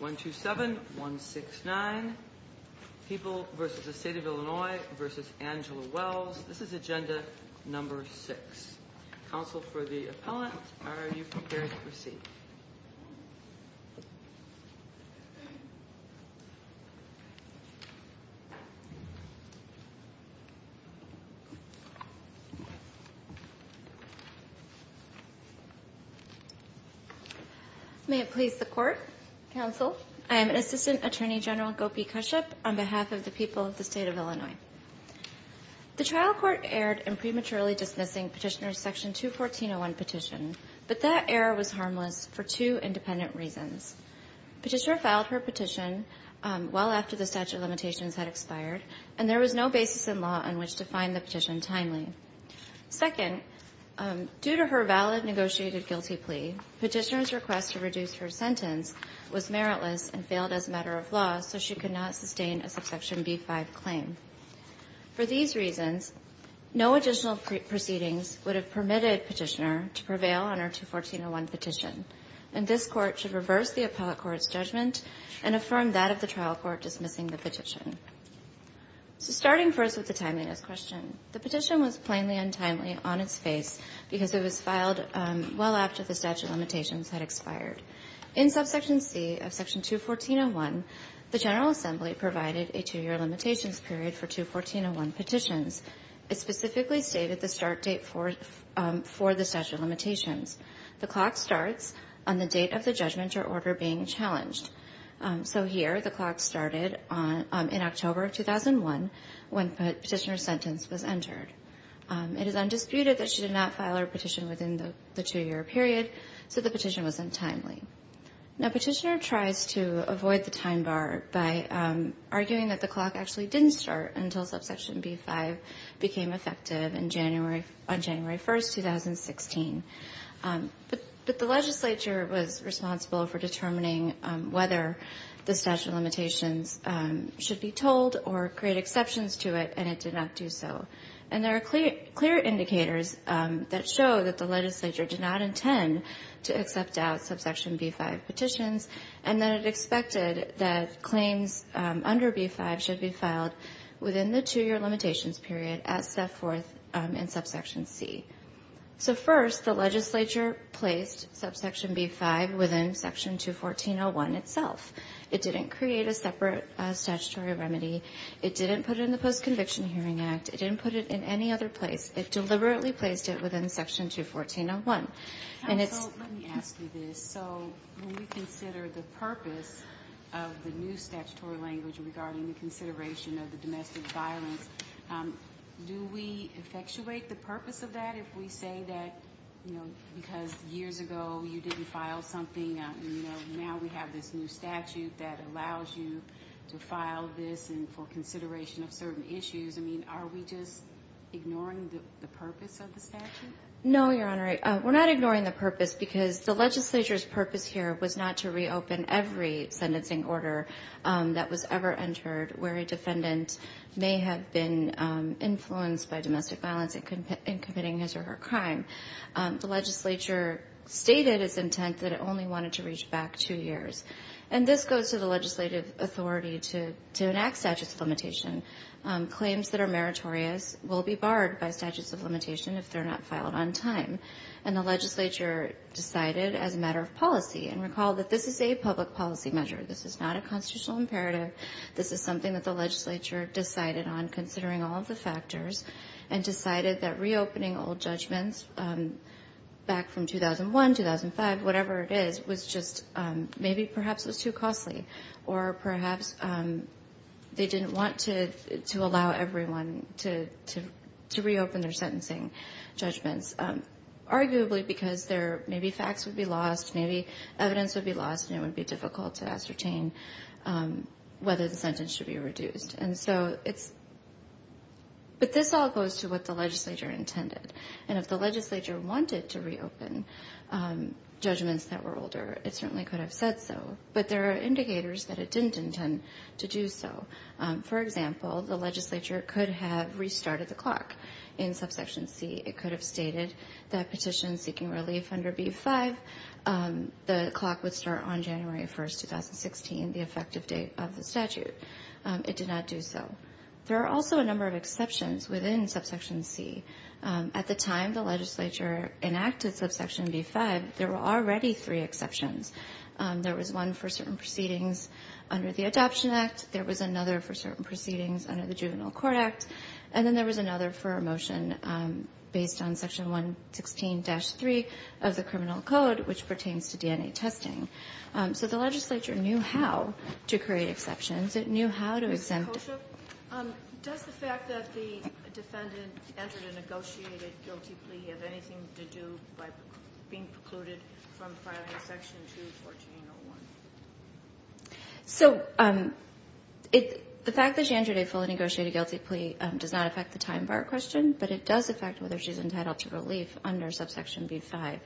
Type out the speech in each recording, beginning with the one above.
1-2-7, 1-6-9, People v. the State of Illinois v. Angela Wells. This is agenda number six. Counsel for the appellant, are you prepared to proceed? May it please the Court, Counsel, I am Assistant Attorney General Gopi Kashyap on behalf of the people of the State of Illinois. The trial court erred in prematurely dismissing Petitioner Section 214-01 petition, but that error was harmless for two independent reasons. Petitioner filed her petition well after the statute of limitations had expired, and there was no basis in law on which to find the petition timely. Second, due to her valid negotiated guilty plea, Petitioner's request to reduce her sentence was meritless and failed as a matter of law, so she could not sustain a subsection B-5 claim. For these reasons, no additional proceedings would have permitted Petitioner to prevail on her 214-01 petition, and this Court should reverse the appellate court's judgment and affirm that of the trial court dismissing the petition. Starting first with the timeliness question, the petition was plainly untimely on its face because it was filed well after the statute of limitations had expired. In subsection C of Section 214-01, the General Assembly provided a two-year limitations period for 214-01 petitions. It specifically stated the start date for the statute of limitations. The clock starts on the date of the judgment or order being challenged. So here, the clock started in October of 2001 when Petitioner's sentence was entered. It is undisputed that she did not file her petition within the two-year period, so the petition was untimely. Now, Petitioner tries to avoid the time bar by arguing that the clock actually didn't start until subsection B-5 became effective on January 1, 2016. But the legislature was responsible for determining whether the statute of limitations should be told or create exceptions to it, and it did not do so. And there are clear indicators that show that the legislature did not intend to accept out subsection B-5 petitions, and that it expected that claims under B-5 should be filed within the two-year limitations period as set forth in subsection C. So first, the legislature placed subsection B-5 within Section 214-01 itself. It didn't create a separate statutory remedy. It didn't put it in the Post-Conviction Hearing Act. It didn't put it in any other place. It deliberately placed it within Section 214-01. Let me ask you this. So when we consider the purpose of the new statutory language regarding the consideration of the domestic violence, do we effectuate the purpose of that if we say that because years ago you didn't file something, now we have this new statute that allows you to file this for consideration of certain issues? I mean, are we just ignoring the purpose of the statute? No, Your Honor. We're not ignoring the purpose because the legislature's purpose here was not to reopen every sentencing order that was ever entered where a defendant may have been influenced by domestic violence in committing his or her crime. The legislature stated its intent that it only wanted to reach back two years. And this goes to the legislative authority to enact statutes of limitation. Claims that are meritorious will be barred by statutes of limitation if they're not filed on time. And the legislature decided as a matter of policy, and recall that this is a public policy measure. This is not a constitutional imperative. This is something that the legislature decided on considering all of the factors and decided that reopening old judgments back from 2001, 2005, whatever it is, was just maybe perhaps it was too costly or perhaps they didn't want to allow everyone to reopen their sentencing judgments, arguably because maybe facts would be lost, maybe evidence would be lost, and it would be difficult to ascertain whether the sentence should be reduced. But this all goes to what the legislature intended. And if the legislature wanted to reopen judgments that were older, it certainly could have said so. But there are indicators that it didn't intend to do so. For example, the legislature could have restarted the clock in Subsection C. It could have stated that petitions seeking relief under B-5, the clock would start on January 1, 2016, the effective date of the statute. It did not do so. There are also a number of exceptions within Subsection C. At the time the legislature enacted Subsection B-5, there were already three exceptions. There was one for certain proceedings under the Adoption Act. There was another for certain proceedings under the Juvenile Court Act. And then there was another for a motion based on Section 116-3 of the Criminal Code, which pertains to DNA testing. So the legislature knew how to create exceptions. It knew how to exempt them. So the fact that she entered a fully negotiated guilty plea does not affect the time bar question, but it does affect whether she's entitled to relief under Subsection B-5.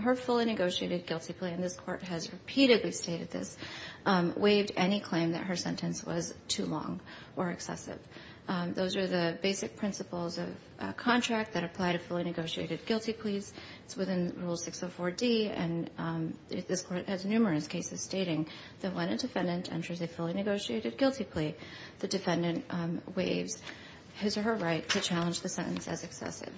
Her fully negotiated guilty plea, and this Court has repeatedly stated this, waived any claim that her sentence was too long or excessive. Those are the basic principles of contract that apply to fully negotiated guilty pleas. It's within Rule 604D, and this Court has numerous cases stating that when a defendant enters a fully negotiated guilty plea, the defendant waives his or her right to challenge the sentence as excessive.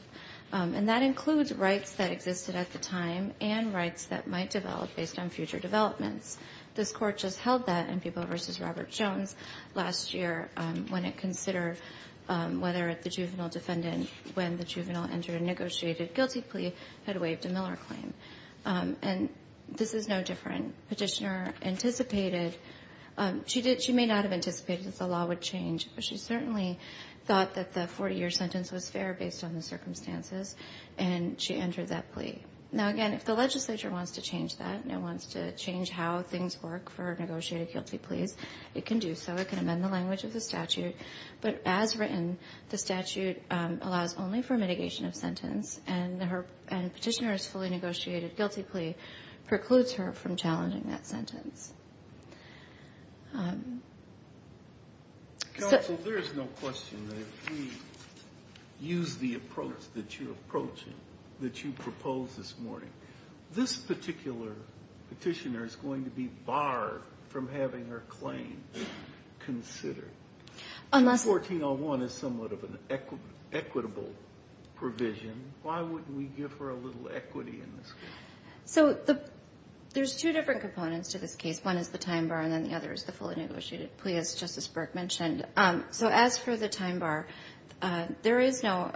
And that includes rights that existed at the time and rights that might develop based on future developments. This Court just held that in People v. Robert Jones last year when it considered whether the juvenile defendant, when the juvenile entered a negotiated guilty plea, had waived a Miller claim. And this is no different. Petitioner anticipated, she may not have anticipated that the law would change, but she certainly thought that the 40-year sentence was fair based on the circumstances, and she entered that plea. Now, again, if the legislature wants to change that and it wants to change how things work for negotiated guilty pleas, it can do so. It can amend the language of the statute. But as written, the statute allows only for mitigation of sentence, and Petitioner's fully negotiated guilty plea precludes her from challenging that sentence. Counsel, there is no question that if we use the approach that you're approaching, that you proposed this morning, this particular Petitioner is going to be barred from having her claim considered. 1401 is somewhat of an equitable provision. Why wouldn't we give her a little equity in this case? So there's two different components to this case. One is the time bar, and then the other is the fully negotiated plea, as Justice Burke mentioned. So as for the time bar, there is no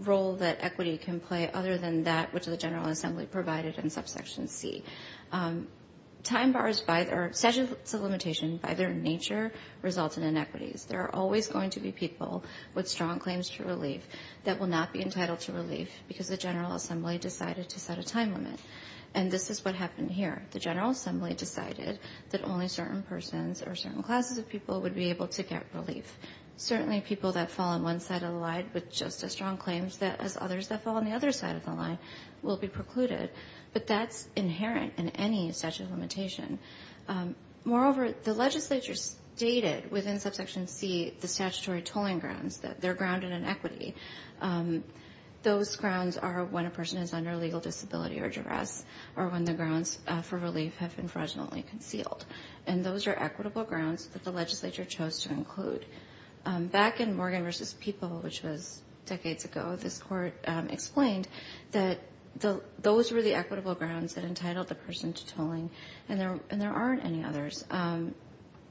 role that equity can play other than that which the General Assembly provided in subsection C. Time bars by their statute of limitation, by their nature, result in inequities. There are always going to be people with strong claims to relief that will not be entitled to relief because the General Assembly decided to set a time limit, and this is what happened here. The General Assembly decided that only certain persons or certain classes of people would be able to get relief. Certainly people that fall on one side of the line with just as strong claims as others that fall on the other side of the line will be precluded, but that's inherent in any statute of limitation. Moreover, the legislature stated within subsection C the statutory tolling grounds, that they're grounded in equity. Those grounds are when a person is under legal disability or duress, or when the grounds for relief have been fraudulently concealed, and those are equitable grounds that the legislature chose to include. Back in Morgan v. People, which was decades ago, this court explained that those were the equitable grounds that entitled the person to tolling, and there aren't any others.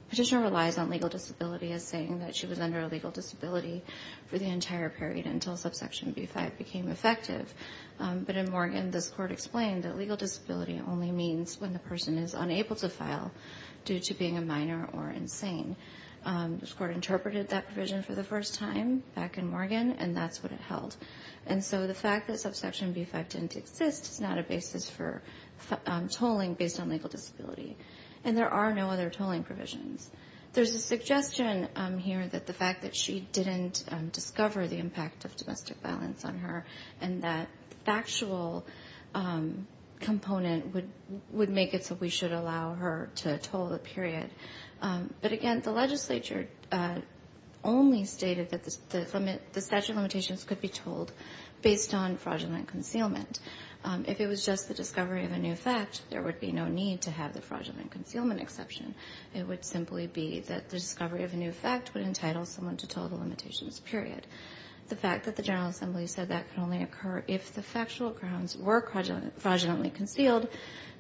Petitioner relies on legal disability as saying that she was under a legal disability for the entire period until subsection B-5 became effective, but in Morgan, this court explained that legal disability only means when the person is unable to file due to being a minor or insane. This court interpreted that provision for the first time back in Morgan, and that's what it held, and so the fact that subsection B-5 didn't exist is not a basis for tolling based on legal disability, and there are no other tolling provisions. There's a suggestion here that the fact that she didn't discover the impact of domestic violence on her, and that factual component would make it so we should allow her to toll the period, but again, the legislature only stated that the statute of limitations could be tolled based on fraudulent concealment. If it was just the discovery of a new fact, there would be no need to have the fraudulent concealment exception. It would simply be that the discovery of a new fact would entitle someone to toll the limitations period. The fact that the General Assembly said that could only occur if the factual grounds were fraudulently concealed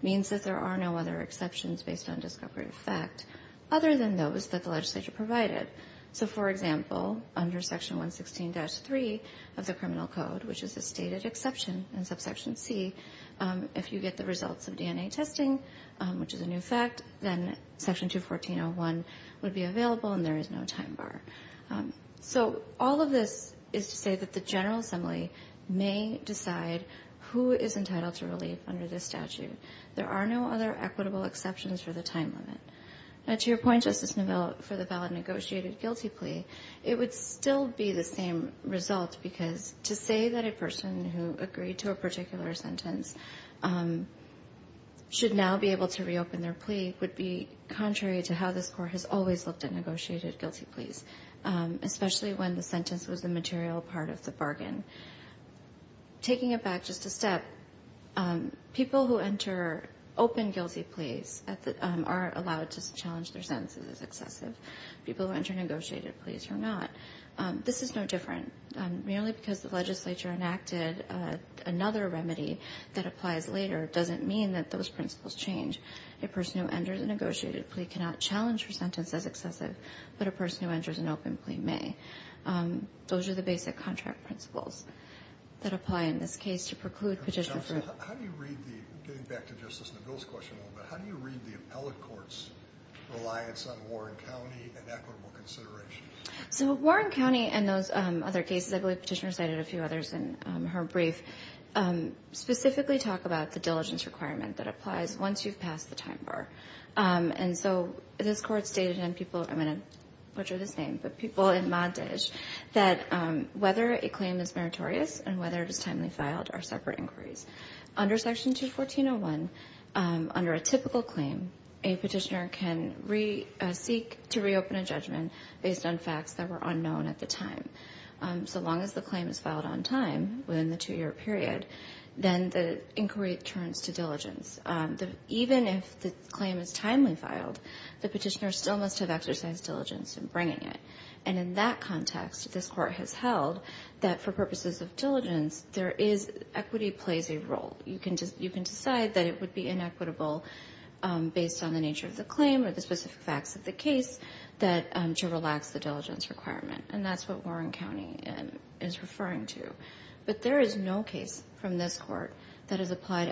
means that there are no other exceptions based on discovery of fact other than those that the legislature provided. So, for example, under section 116-3 of the criminal code, which is a stated exception in subsection C, if you get the results of DNA testing, which is a new fact, then section 214.01 would be available, and there is no time bar. So all of this is to say that the General Assembly may decide who is entitled to relief under this statute. There are no other equitable exceptions for the time limit. To your point, Justice Neville, for the valid negotiated guilty plea, it would still be the same result because to say that a person who agreed to a particular sentence should now be able to reopen their plea would be contrary to how this Court has always looked at negotiated guilty pleas, especially when the sentence was a material part of the bargain. Taking it back just a step, people who enter open guilty pleas are allowed to challenge their sentences as excessive. People who enter negotiated pleas are not. This is no different. Merely because the legislature enacted another remedy that applies later doesn't mean that those principles change. A person who enters a negotiated plea cannot challenge her sentence as excessive, but a person who enters an open plea may. Those are the basic contract principles that apply in this case to preclude Petitioner from... Justice, how do you read the, getting back to Justice Neville's question a little bit, how do you read the appellate court's reliance on Warren County and equitable consideration? So Warren County and those other cases, I believe Petitioner cited a few others in her brief, specifically talk about the diligence requirement that applies once you've passed the time bar. And so this Court stated, and people, I'm going to butcher this name, but people in Montage, that whether a claim is meritorious and whether it is timely filed are separate inquiries. Under Section 214.01, under a typical claim, a Petitioner can seek to reopen a judgment based on facts that were unknown at the time. So long as the claim is filed on time, within the two-year period, then the inquiry turns to diligence. Even if the claim is timely filed, the Petitioner still must have exercised diligence in bringing it. And in that context, this Court has held that for purposes of diligence, there is, equity plays a role. You can decide that it would be inequitable based on the nature of the claim or the specific facts of the case that should relax the diligence requirement. And that's what Warren County is referring to. But there is no case from this Court that has applied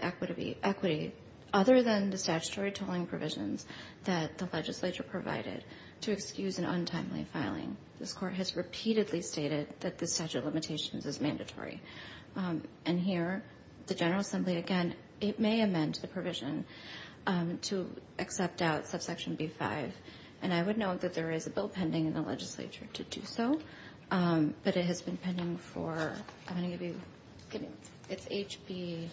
equity other than the statutory tolling provisions that the legislature provided to excuse an untimely filing. This Court has repeatedly stated that the statute of limitations is mandatory. And here, the General Assembly, again, it may amend the provision to accept out subsection B-5. And I would note that there is a bill pending in the legislature to do so. But it has been pending for, I'm going to give you, it's HB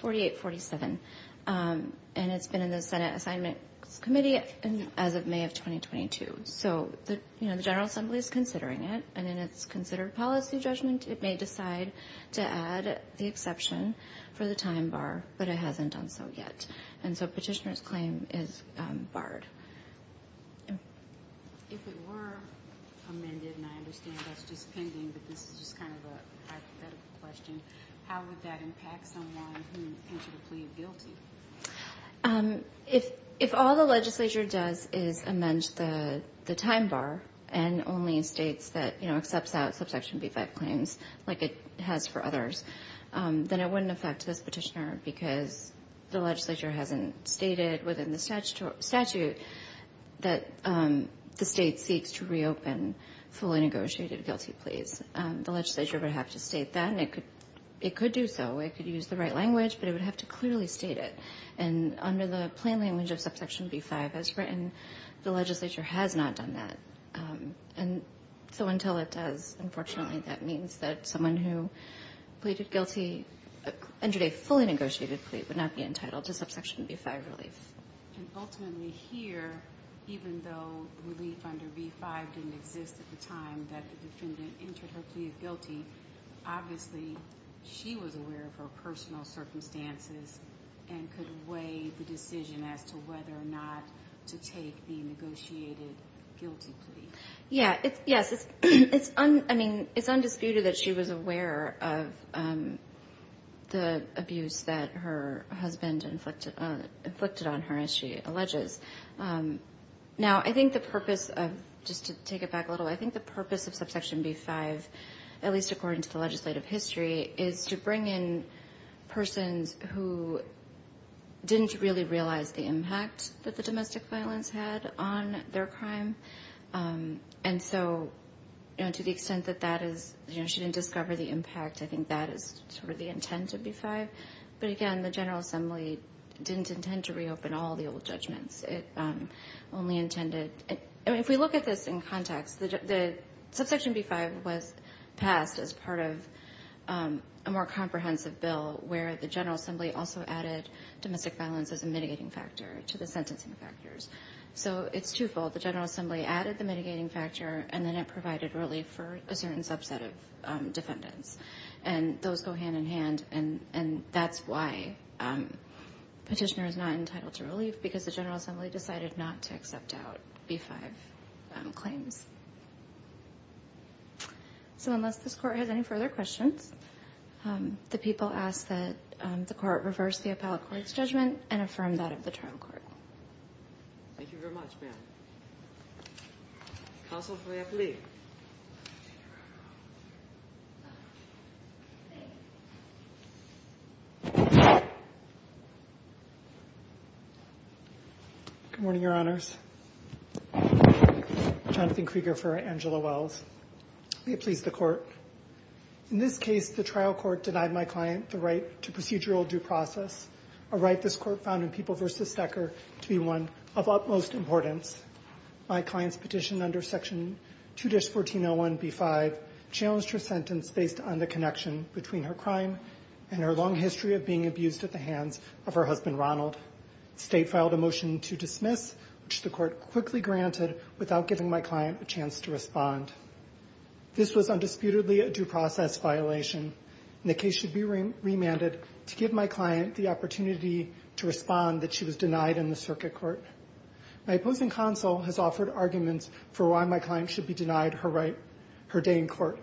4847. And it's been in the Senate Assignments Committee as of May of 2022. So the General Assembly is considering it. And in its considered policy judgment, it may decide to add the exception for the time bar. But it hasn't done so yet. And so Petitioner's claim is barred. If it were amended, and I understand that's just pending, but this is just kind of a hypothetical question, how would that impact someone who entered a plea guilty? If all the legislature does is amend the time bar and only in states that, you know, accepts out subsection B-5 claims like it has for others, then it wouldn't affect this petitioner because the legislature hasn't stated within the statute that the state seeks to reopen fully negotiated guilty pleas. The legislature would have to state that, and it could do so. It could use the right language, but it would have to clearly state it. And under the plain language of subsection B-5 as written, the legislature has not done that. And so until it does, unfortunately, that means that someone who pleaded guilty under a fully negotiated plea would not be entitled to subsection B-5 relief. And ultimately here, even though relief under B-5 didn't exist at the time that the defendant entered her plea guilty, obviously she was aware of her personal circumstances and could weigh the decision as to whether or not to take the negotiated guilty plea. Yes, it's undisputed that she was aware of the abuse that her husband inflicted on her, as she alleges. Now, I think the purpose of, just to take it back a little, I think the purpose of subsection B-5, at least according to the legislative history, is to bring in persons who didn't really realize the impact that the domestic violence had on their crime. And so, you know, to the extent that that is, you know, she didn't discover the impact, I think that is sort of the intent of B-5. But again, the General Assembly didn't intend to reopen all the old judgments. If we look at this in context, subsection B-5 was passed as part of a more comprehensive bill where the General Assembly also added domestic violence as a mitigating factor to the sentencing factors. So it's twofold. The General Assembly added the mitigating factor, and then it provided relief for a certain subset of defendants. And those go hand-in-hand, and that's why Petitioner is not entitled to relief, because the General Assembly decided not to accept out B-5 claims. So unless this Court has any further questions, the people ask that the Court reverse the appellate court's judgment and affirm that of the trial court. Thank you very much, ma'am. Counsel for the appellate. Thank you. Good morning, Your Honors. Jonathan Krieger for Angela Wells. May it please the Court. In this case, the trial court denied my client the right to procedural due process, a right this Court found in People v. Stecker to be one of utmost importance. My client's petition under Section 2-1401B-5 challenged her sentence based on the connection between her crime and her long history of being abused at the hands of her husband, Ronald. State filed a motion to dismiss, which the Court quickly granted without giving my client a chance to respond. This was undisputedly a due process violation, and the case should be remanded to give my client the opportunity to respond that she was denied in the circuit court. My opposing counsel has offered arguments for why my client should be denied her day in court,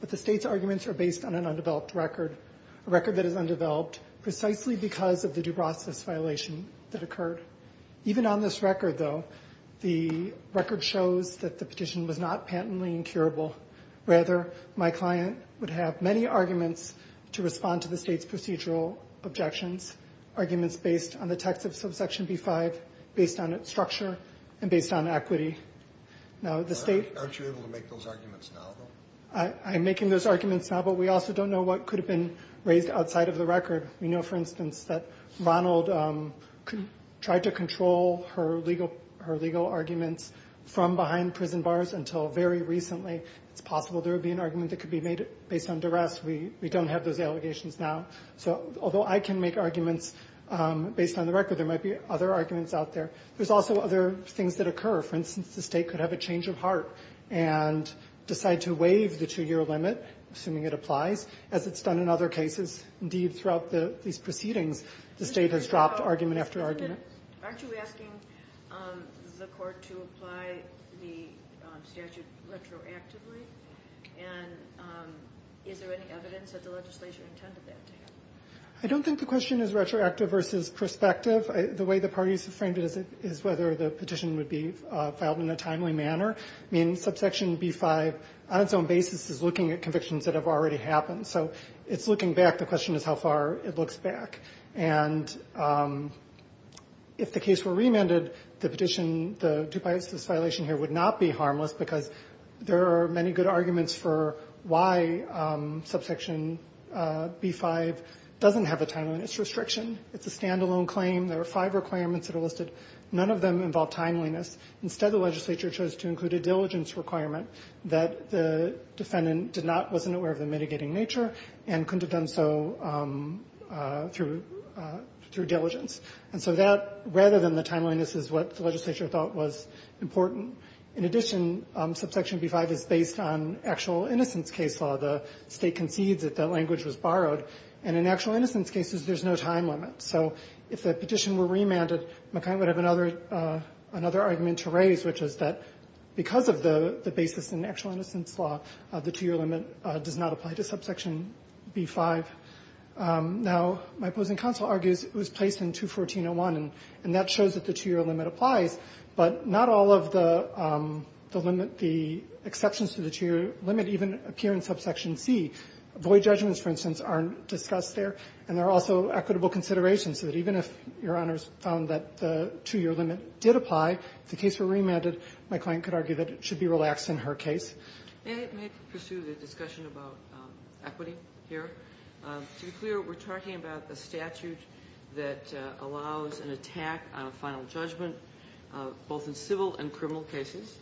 but the State's arguments are based on an undeveloped record, a record that is undeveloped precisely because of the due process violation that occurred. Even on this record, though, the record shows that the petition was not patently incurable. Rather, my client would have many arguments to respond to the State's procedural objections, arguments based on the text of Section B-5, based on its structure, and based on equity. Now, the State— Aren't you able to make those arguments now, though? I'm making those arguments now, but we also don't know what could have been raised outside of the record. We know, for instance, that Ronald tried to control her legal arguments from behind prison bars until very recently. It's possible there would be an argument that could be made based on duress. We don't have those allegations now. So although I can make arguments based on the record, there might be other arguments out there. There's also other things that occur. For instance, the State could have a change of heart and decide to waive the two-year limit, assuming it applies, as it's done in other cases. Indeed, throughout these proceedings, the State has dropped argument after argument. Aren't you asking the Court to apply the statute retroactively? And is there any evidence that the legislature intended that to happen? I don't think the question is retroactive versus prospective. The way the parties have framed it is whether the petition would be filed in a timely manner. I mean, Subsection B-5, on its own basis, is looking at convictions that have already happened. So it's looking back. The question is how far it looks back. And if the case were remanded, the petition, the Dupuis violation here would not be harmless because there are many good arguments for why Subsection B-5 doesn't have a timeliness restriction. It's a standalone claim. There are five requirements that are listed. None of them involve timeliness. Instead, the legislature chose to include a diligence requirement that the defendant did not, wasn't aware of the mitigating nature, and couldn't have done so through diligence. And so that, rather than the timeliness, is what the legislature thought was important. In addition, Subsection B-5 is based on actual innocence case law. The State concedes that that language was borrowed. And in actual innocence cases, there's no time limit. So if the petition were remanded, McKay would have another argument to raise, which is that because of the basis in actual innocence law, the 2-year limit does not apply to Subsection B-5. Now, my opposing counsel argues it was placed in 214.01, and that shows that the 2-year limit applies, but not all of the limit, the exceptions to the 2-year limit even appear in Subsection C. Void judgments, for instance, aren't discussed there. And there are also equitable considerations. So that even if Your Honors found that the 2-year limit did apply, if the case were remanded, my client could argue that it should be relaxed in her case. And it may pursue the discussion about equity here. To be clear, we're talking about a statute that allows an attack on a final judgment, both in civil and criminal cases.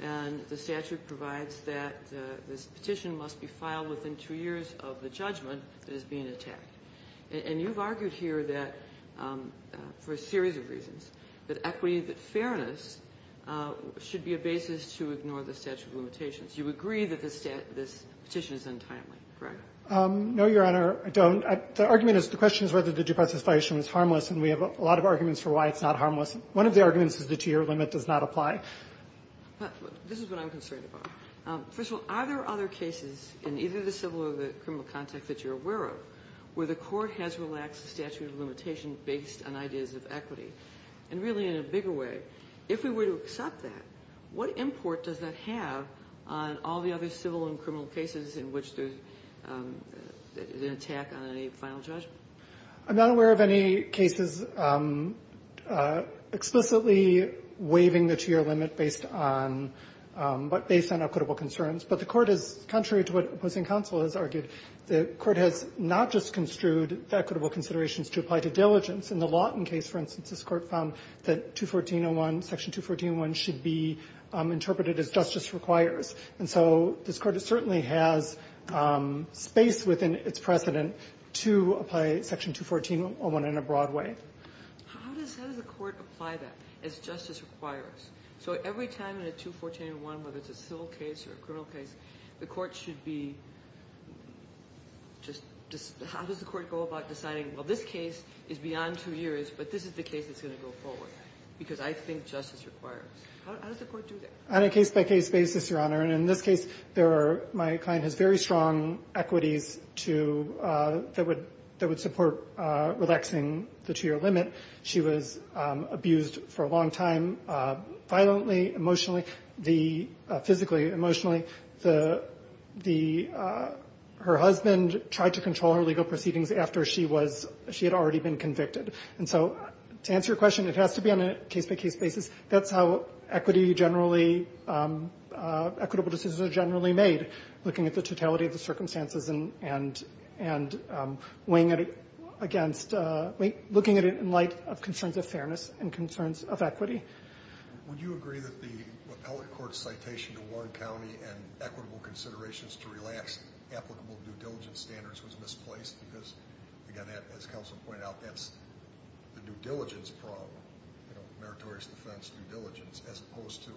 And the statute provides that this petition must be filed within 2 years of the judgment that is being attacked. And you've argued here that, for a series of reasons, that equity, that fairness should be a basis to ignore the statute of limitations. You agree that this petition is untimely, correct? No, Your Honor, I don't. The argument is, the question is whether the due process violation was harmless, and we have a lot of arguments for why it's not harmless. One of the arguments is the 2-year limit does not apply. This is what I'm concerned about. First of all, are there other cases in either the civil or the criminal context that you're aware of where the court has relaxed the statute of limitation based on ideas of equity? And really, in a bigger way, if we were to accept that, what import does that have on all the other civil and criminal cases in which there's an attack on any final judgment? I'm not aware of any cases explicitly waiving the 2-year limit based on equitable concerns. But the Court has, contrary to what opposing counsel has argued, the Court has not just construed the equitable considerations to apply to diligence. In the Lawton case, for instance, this Court found that 214.01, Section 214.01 should be interpreted as justice requires. And so this Court certainly has space within its precedent to apply Section 214.01 in a broad way. How does the Court apply that as justice requires? So every time in a 214.01, whether it's a civil case or a criminal case, the Court should be just, how does the Court go about deciding, well, this case is beyond two years, but this is the case that's going to go forward? Because I think justice requires. How does the Court do that? On a case-by-case basis, Your Honor, and in this case, my client has very strong equities that would support relaxing the 2-year limit. She was abused for a long time, violently, emotionally, physically, emotionally. Her husband tried to control her legal proceedings after she had already been convicted. And so to answer your question, it has to be on a case-by-case basis. That's how equity generally, equitable decisions are generally made, looking at the fairness and concerns of equity. Would you agree that the appellate court's citation to one county and equitable considerations to relax applicable due diligence standards was misplaced? Because, again, as counsel pointed out, that's the due diligence problem, you know, meritorious defense, due diligence, as opposed to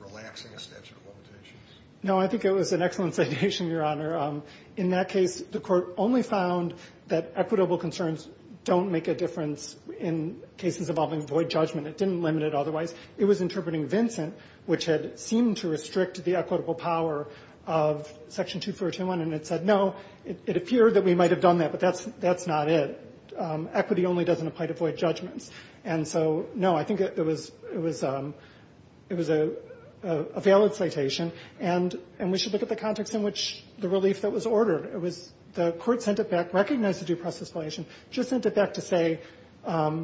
relaxing a statute of limitations. No, I think it was an excellent citation, Your Honor. In that case, the Court only found that equitable concerns don't make a difference in cases involving void judgment. It didn't limit it otherwise. It was interpreting Vincent, which had seemed to restrict the equitable power of Section 2421, and it said, no, it appeared that we might have done that, but that's not it. Equity only doesn't apply to void judgments. And so, no, I think it was a valid citation, and we should look at the context in which the relief that was ordered. The Court sent it back, recognized the due process violation, just sent it back to say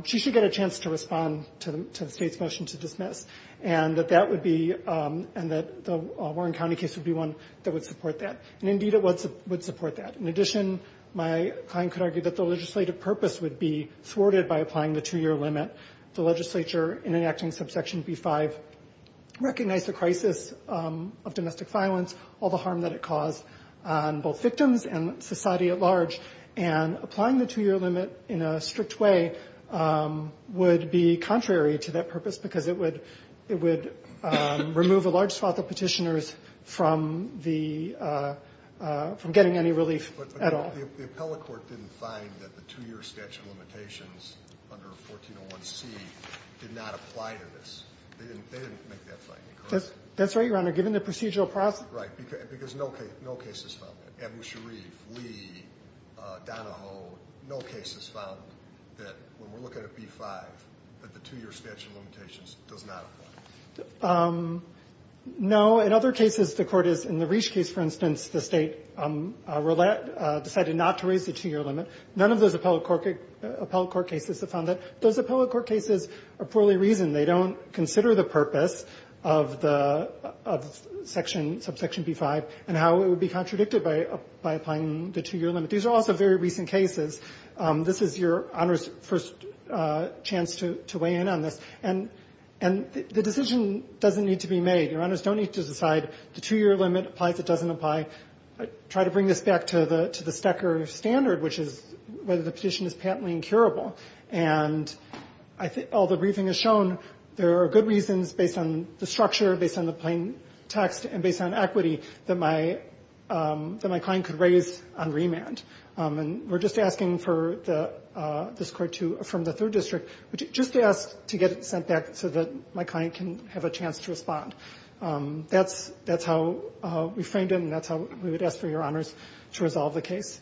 she should get a chance to respond to the State's motion to dismiss, and that that would be, and that the Warren County case would be one that would support that. And, indeed, it would support that. In addition, my client could argue that the legislative purpose would be thwarted by applying the two-year limit. The legislature, in enacting subsection B-5, recognized the crisis of domestic violence, all the harm that it caused on both victims and society at large. And applying the two-year limit in a strict way would be contrary to that purpose because it would remove a large swath of Petitioners from the, from getting any relief at all. But the appellate court didn't find that the two-year statute of limitations under 1401C did not apply to this. They didn't make that finding, correct? That's right, Your Honor. Given the procedural process. Right. Because no case has found that. Abu Sharif, Lee, Donahoe, no case has found that, when we're looking at B-5, that the two-year statute of limitations does not apply. No. In other cases, the Court has, in the Reach case, for instance, the State decided not to raise the two-year limit. None of those appellate court cases have found that. Those appellate court cases are poorly reasoned. They don't consider the purpose of the section, subsection B-5, and how it would be contradicted by applying the two-year limit. These are also very recent cases. This is Your Honor's first chance to weigh in on this. And the decision doesn't need to be made. Your Honors don't need to decide the two-year limit applies, it doesn't apply. Try to bring this back to the Stecker standard, which is whether the petition is patently incurable. And I think all the briefing has shown there are good reasons, based on the structure, based on the plain text, and based on equity, that my client could raise on remand. And we're just asking for this Court to, from the Third District, just ask to get it sent back so that my client can have a chance to respond. That's how we framed it, and that's how we would ask for Your Honors to resolve the case.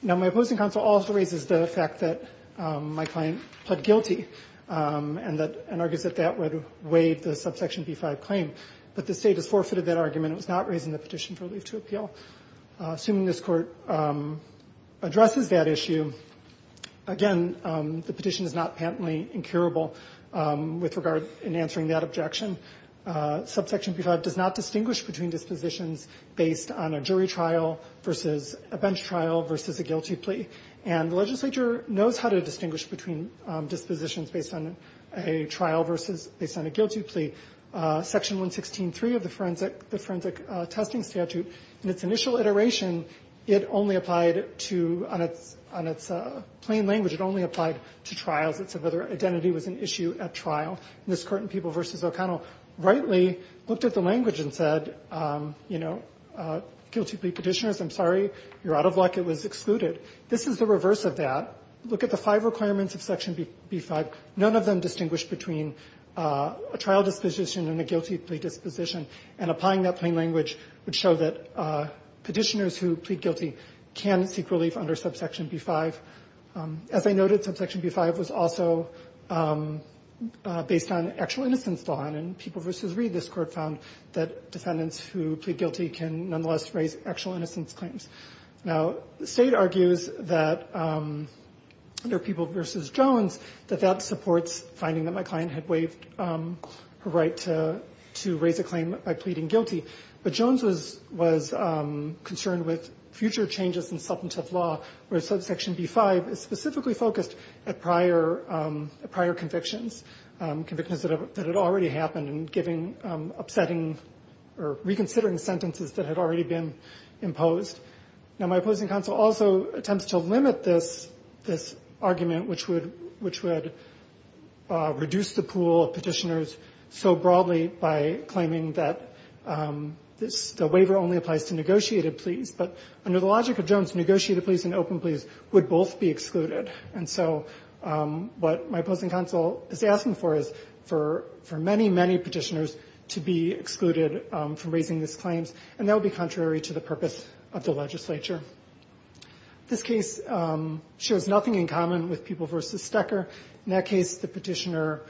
Now, my opposing counsel also raises the fact that my client pled guilty and argues that that would waive the subsection B-5 claim. But the State has forfeited that argument. It was not raised in the Petition for Relief to Appeal. Assuming this Court addresses that issue, again, the petition is not patently incurable with regard in answering that objection. Subsection B-5 does not distinguish between dispositions based on a jury trial versus a bench trial versus a guilty plea. And the legislature knows how to distinguish between dispositions based on a trial versus based on a guilty plea. Section 116.3 of the Forensic Testing Statute, in its initial iteration, it only applied to, on its plain language, it only applied to trials. It said whether identity was an issue at trial. And this Court in People v. O'Connell rightly looked at the language and said, you know, guilty plea Petitioners, I'm sorry. You're out of luck. It was excluded. This is the reverse of that. Look at the five requirements of Section B-5. None of them distinguish between a trial disposition and a guilty plea disposition. And applying that plain language would show that Petitioners who plead guilty can seek relief under subsection B-5. As I noted, subsection B-5 was also based on actual innocence law. And in People v. Reed, this Court found that defendants who plead guilty can nonetheless raise actual innocence claims. Now, the State argues that under People v. Jones, that that supports finding that my client had waived her right to raise a claim by pleading guilty. But Jones was concerned with future changes in substantive law where subsection B-5 is specifically focused at prior convictions, convictions that had already happened and giving upsetting or reconsidering sentences that had already been imposed. Now, my opposing counsel also attempts to limit this argument, which would reduce the pool of Petitioners so broadly by claiming that the waiver only applies to negotiated be excluded. And so what my opposing counsel is asking for is for many, many Petitioners to be excluded from raising these claims. And that would be contrary to the purpose of the legislature. This case shows nothing in common with People v. Stecker. In that case, the Petitioner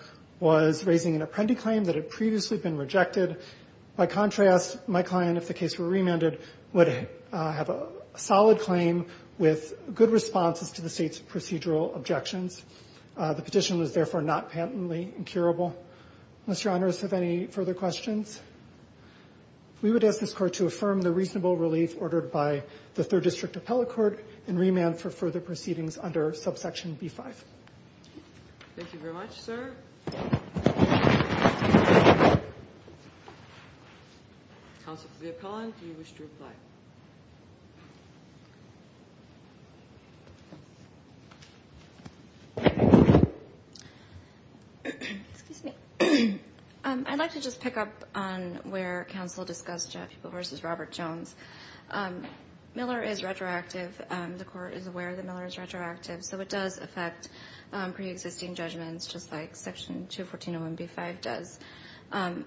was raising an apprendee claim that had previously been rejected. By contrast, my client, if the case were remanded, would have a solid claim with good responses to the State's procedural objections. The petition was, therefore, not patently incurable. Unless Your Honors have any further questions, we would ask this Court to affirm the reasonable relief ordered by the Third District Appellate Court and remand for further proceedings under subsection B-5. Thank you very much, sir. Counsel to the appellant, do you wish to reply? Excuse me. I'd like to just pick up on where counsel discussed People v. Robert Jones. Miller is retroactive. The Court is aware that Miller is retroactive, so it does affect preexisting judgments just like Section 214 of 1B-5 does.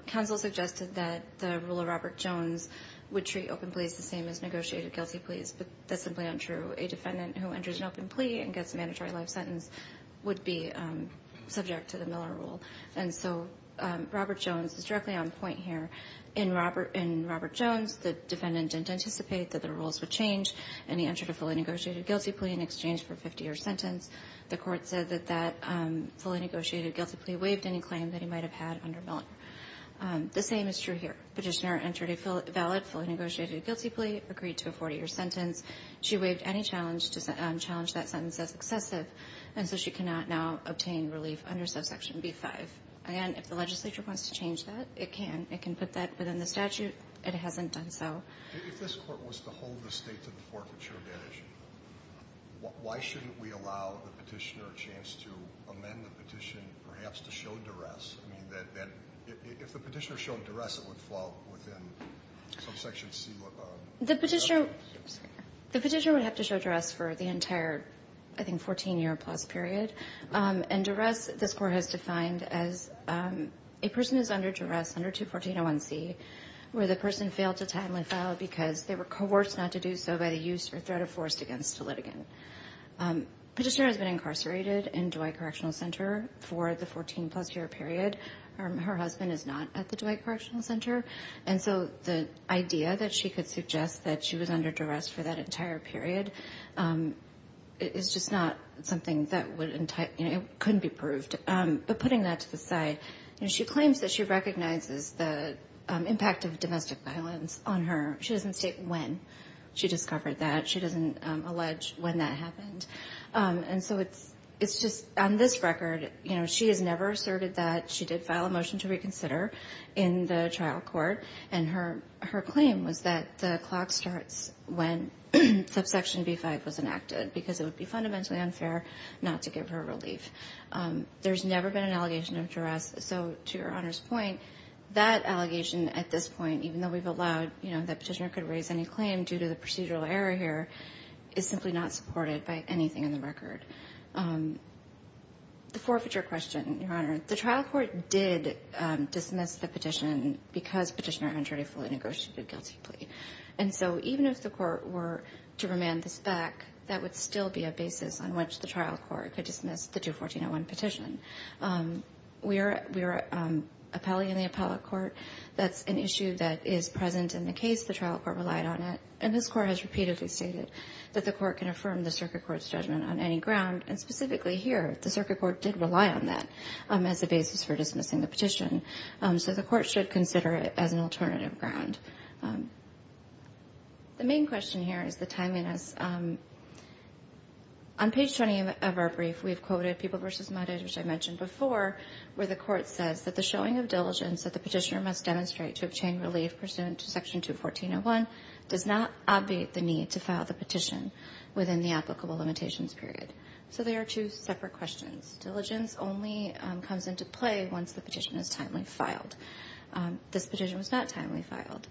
Counsel suggested that the rule of Robert Jones would treat open pleas the same as negotiated guilty pleas, but that's simply untrue. A defendant who enters an open plea and gets a mandatory life sentence would be subject to the Miller rule. And so Robert Jones is directly on point here. In Robert Jones, the defendant didn't anticipate that the rules would change, and he entered a fully negotiated guilty plea in exchange for a 50-year sentence. The Court said that that fully negotiated guilty plea waived any claim that he might have had under Miller. The same is true here. Petitioner entered a valid fully negotiated guilty plea, agreed to a 40-year sentence. She waived any challenge to challenge that sentence as excessive, and so she cannot now obtain relief under subsection B-5. Again, if the legislature wants to change that, it can. It can put that within the statute. It hasn't done so. If this Court was to hold the State to the forfeiture of that issue, why shouldn't we allow the petitioner a chance to amend the petition, perhaps to show duress? I mean, if the petitioner showed duress, it would fall within subsection C. The petitioner would have to show duress for the entire, I think, 14-year-plus period. And duress, this Court has defined as a person who is under duress under 214-01C where the person failed to timely file because they were coerced not to do so by the use or threat of force against the litigant. Petitioner has been incarcerated in Dwight Correctional Center for the 14-plus-year period. Her husband is not at the Dwight Correctional Center. And so the idea that she could suggest that she was under duress for that entire period is just not something that could be proved. But putting that to the side, she claims that she recognizes the impact of domestic violence on her. She doesn't state when she discovered that. She doesn't allege when that happened. And so it's just on this record, you know, she has never asserted that. She did file a motion to reconsider in the trial court. And her claim was that the clock starts when subsection B-5 was enacted because it would be fundamentally unfair not to give her relief. There's never been an allegation of duress. So to Your Honor's point, that allegation at this point, even though we've allowed, you know, the petitioner could raise any claim due to the procedural error here, is simply not supported by anything in the record. The forfeiture question, Your Honor, the trial court did dismiss the petition because Petitioner entered a fully negotiated guilty plea. And so even if the court were to remand this back, that would still be a basis on which the trial court could dismiss the 214-01 petition. We are appellee in the appellate court. That's an issue that is present in the case. The trial court relied on it. And this court has repeatedly stated that the court can affirm the circuit court's judgment on any ground. And specifically here, the circuit court did rely on that as a basis for dismissing the petition. So the court should consider it as an alternative ground. The main question here is the timeliness. On page 20 of our brief, we've quoted People v. Muddish, which I mentioned before, where the court says that the showing of diligence that the petitioner must demonstrate to obtain relief pursuant to Section 214-01 does not obviate the need to file the petition within the applicable limitations period. So they are two separate questions. Diligence only comes into play once the petition is timely filed. This petition was not timely filed.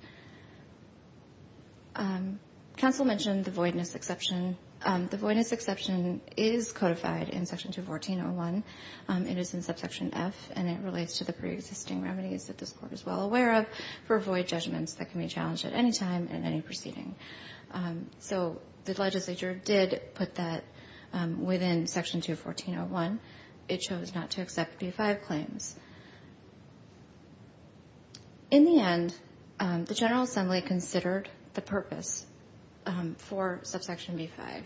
Counsel mentioned the voidness exception. The voidness exception is codified in Section 214-01. It is in Subsection F, and it relates to the preexisting remedies that this court is well aware of for void judgments that can be challenged at any time in any proceeding. So the legislature did put that within Section 214-01. It chose not to accept B-5 claims. In the end, the General Assembly considered the purpose for Subsection B-5,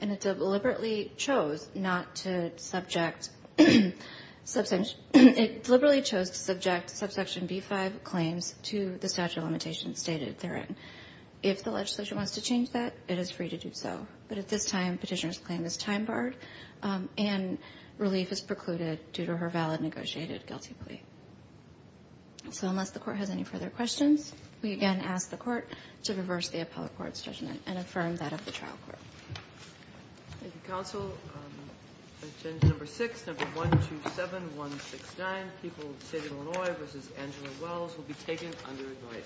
and it deliberately chose not to subject Subsection B-5 claims to the statute of limitations stated therein. If the legislature wants to change that, it is free to do so. But at this time, petitioner's claim is time barred, and relief is precluded due to her valid negotiated guilty plea. So unless the court has any further questions, we again ask the Court to reverse the appellate court's judgment and affirm that of the trial court. Thank you, counsel. Agenda number 6, number 127169, People of the State of Illinois v. Angela Wells, will be taken under annoyance.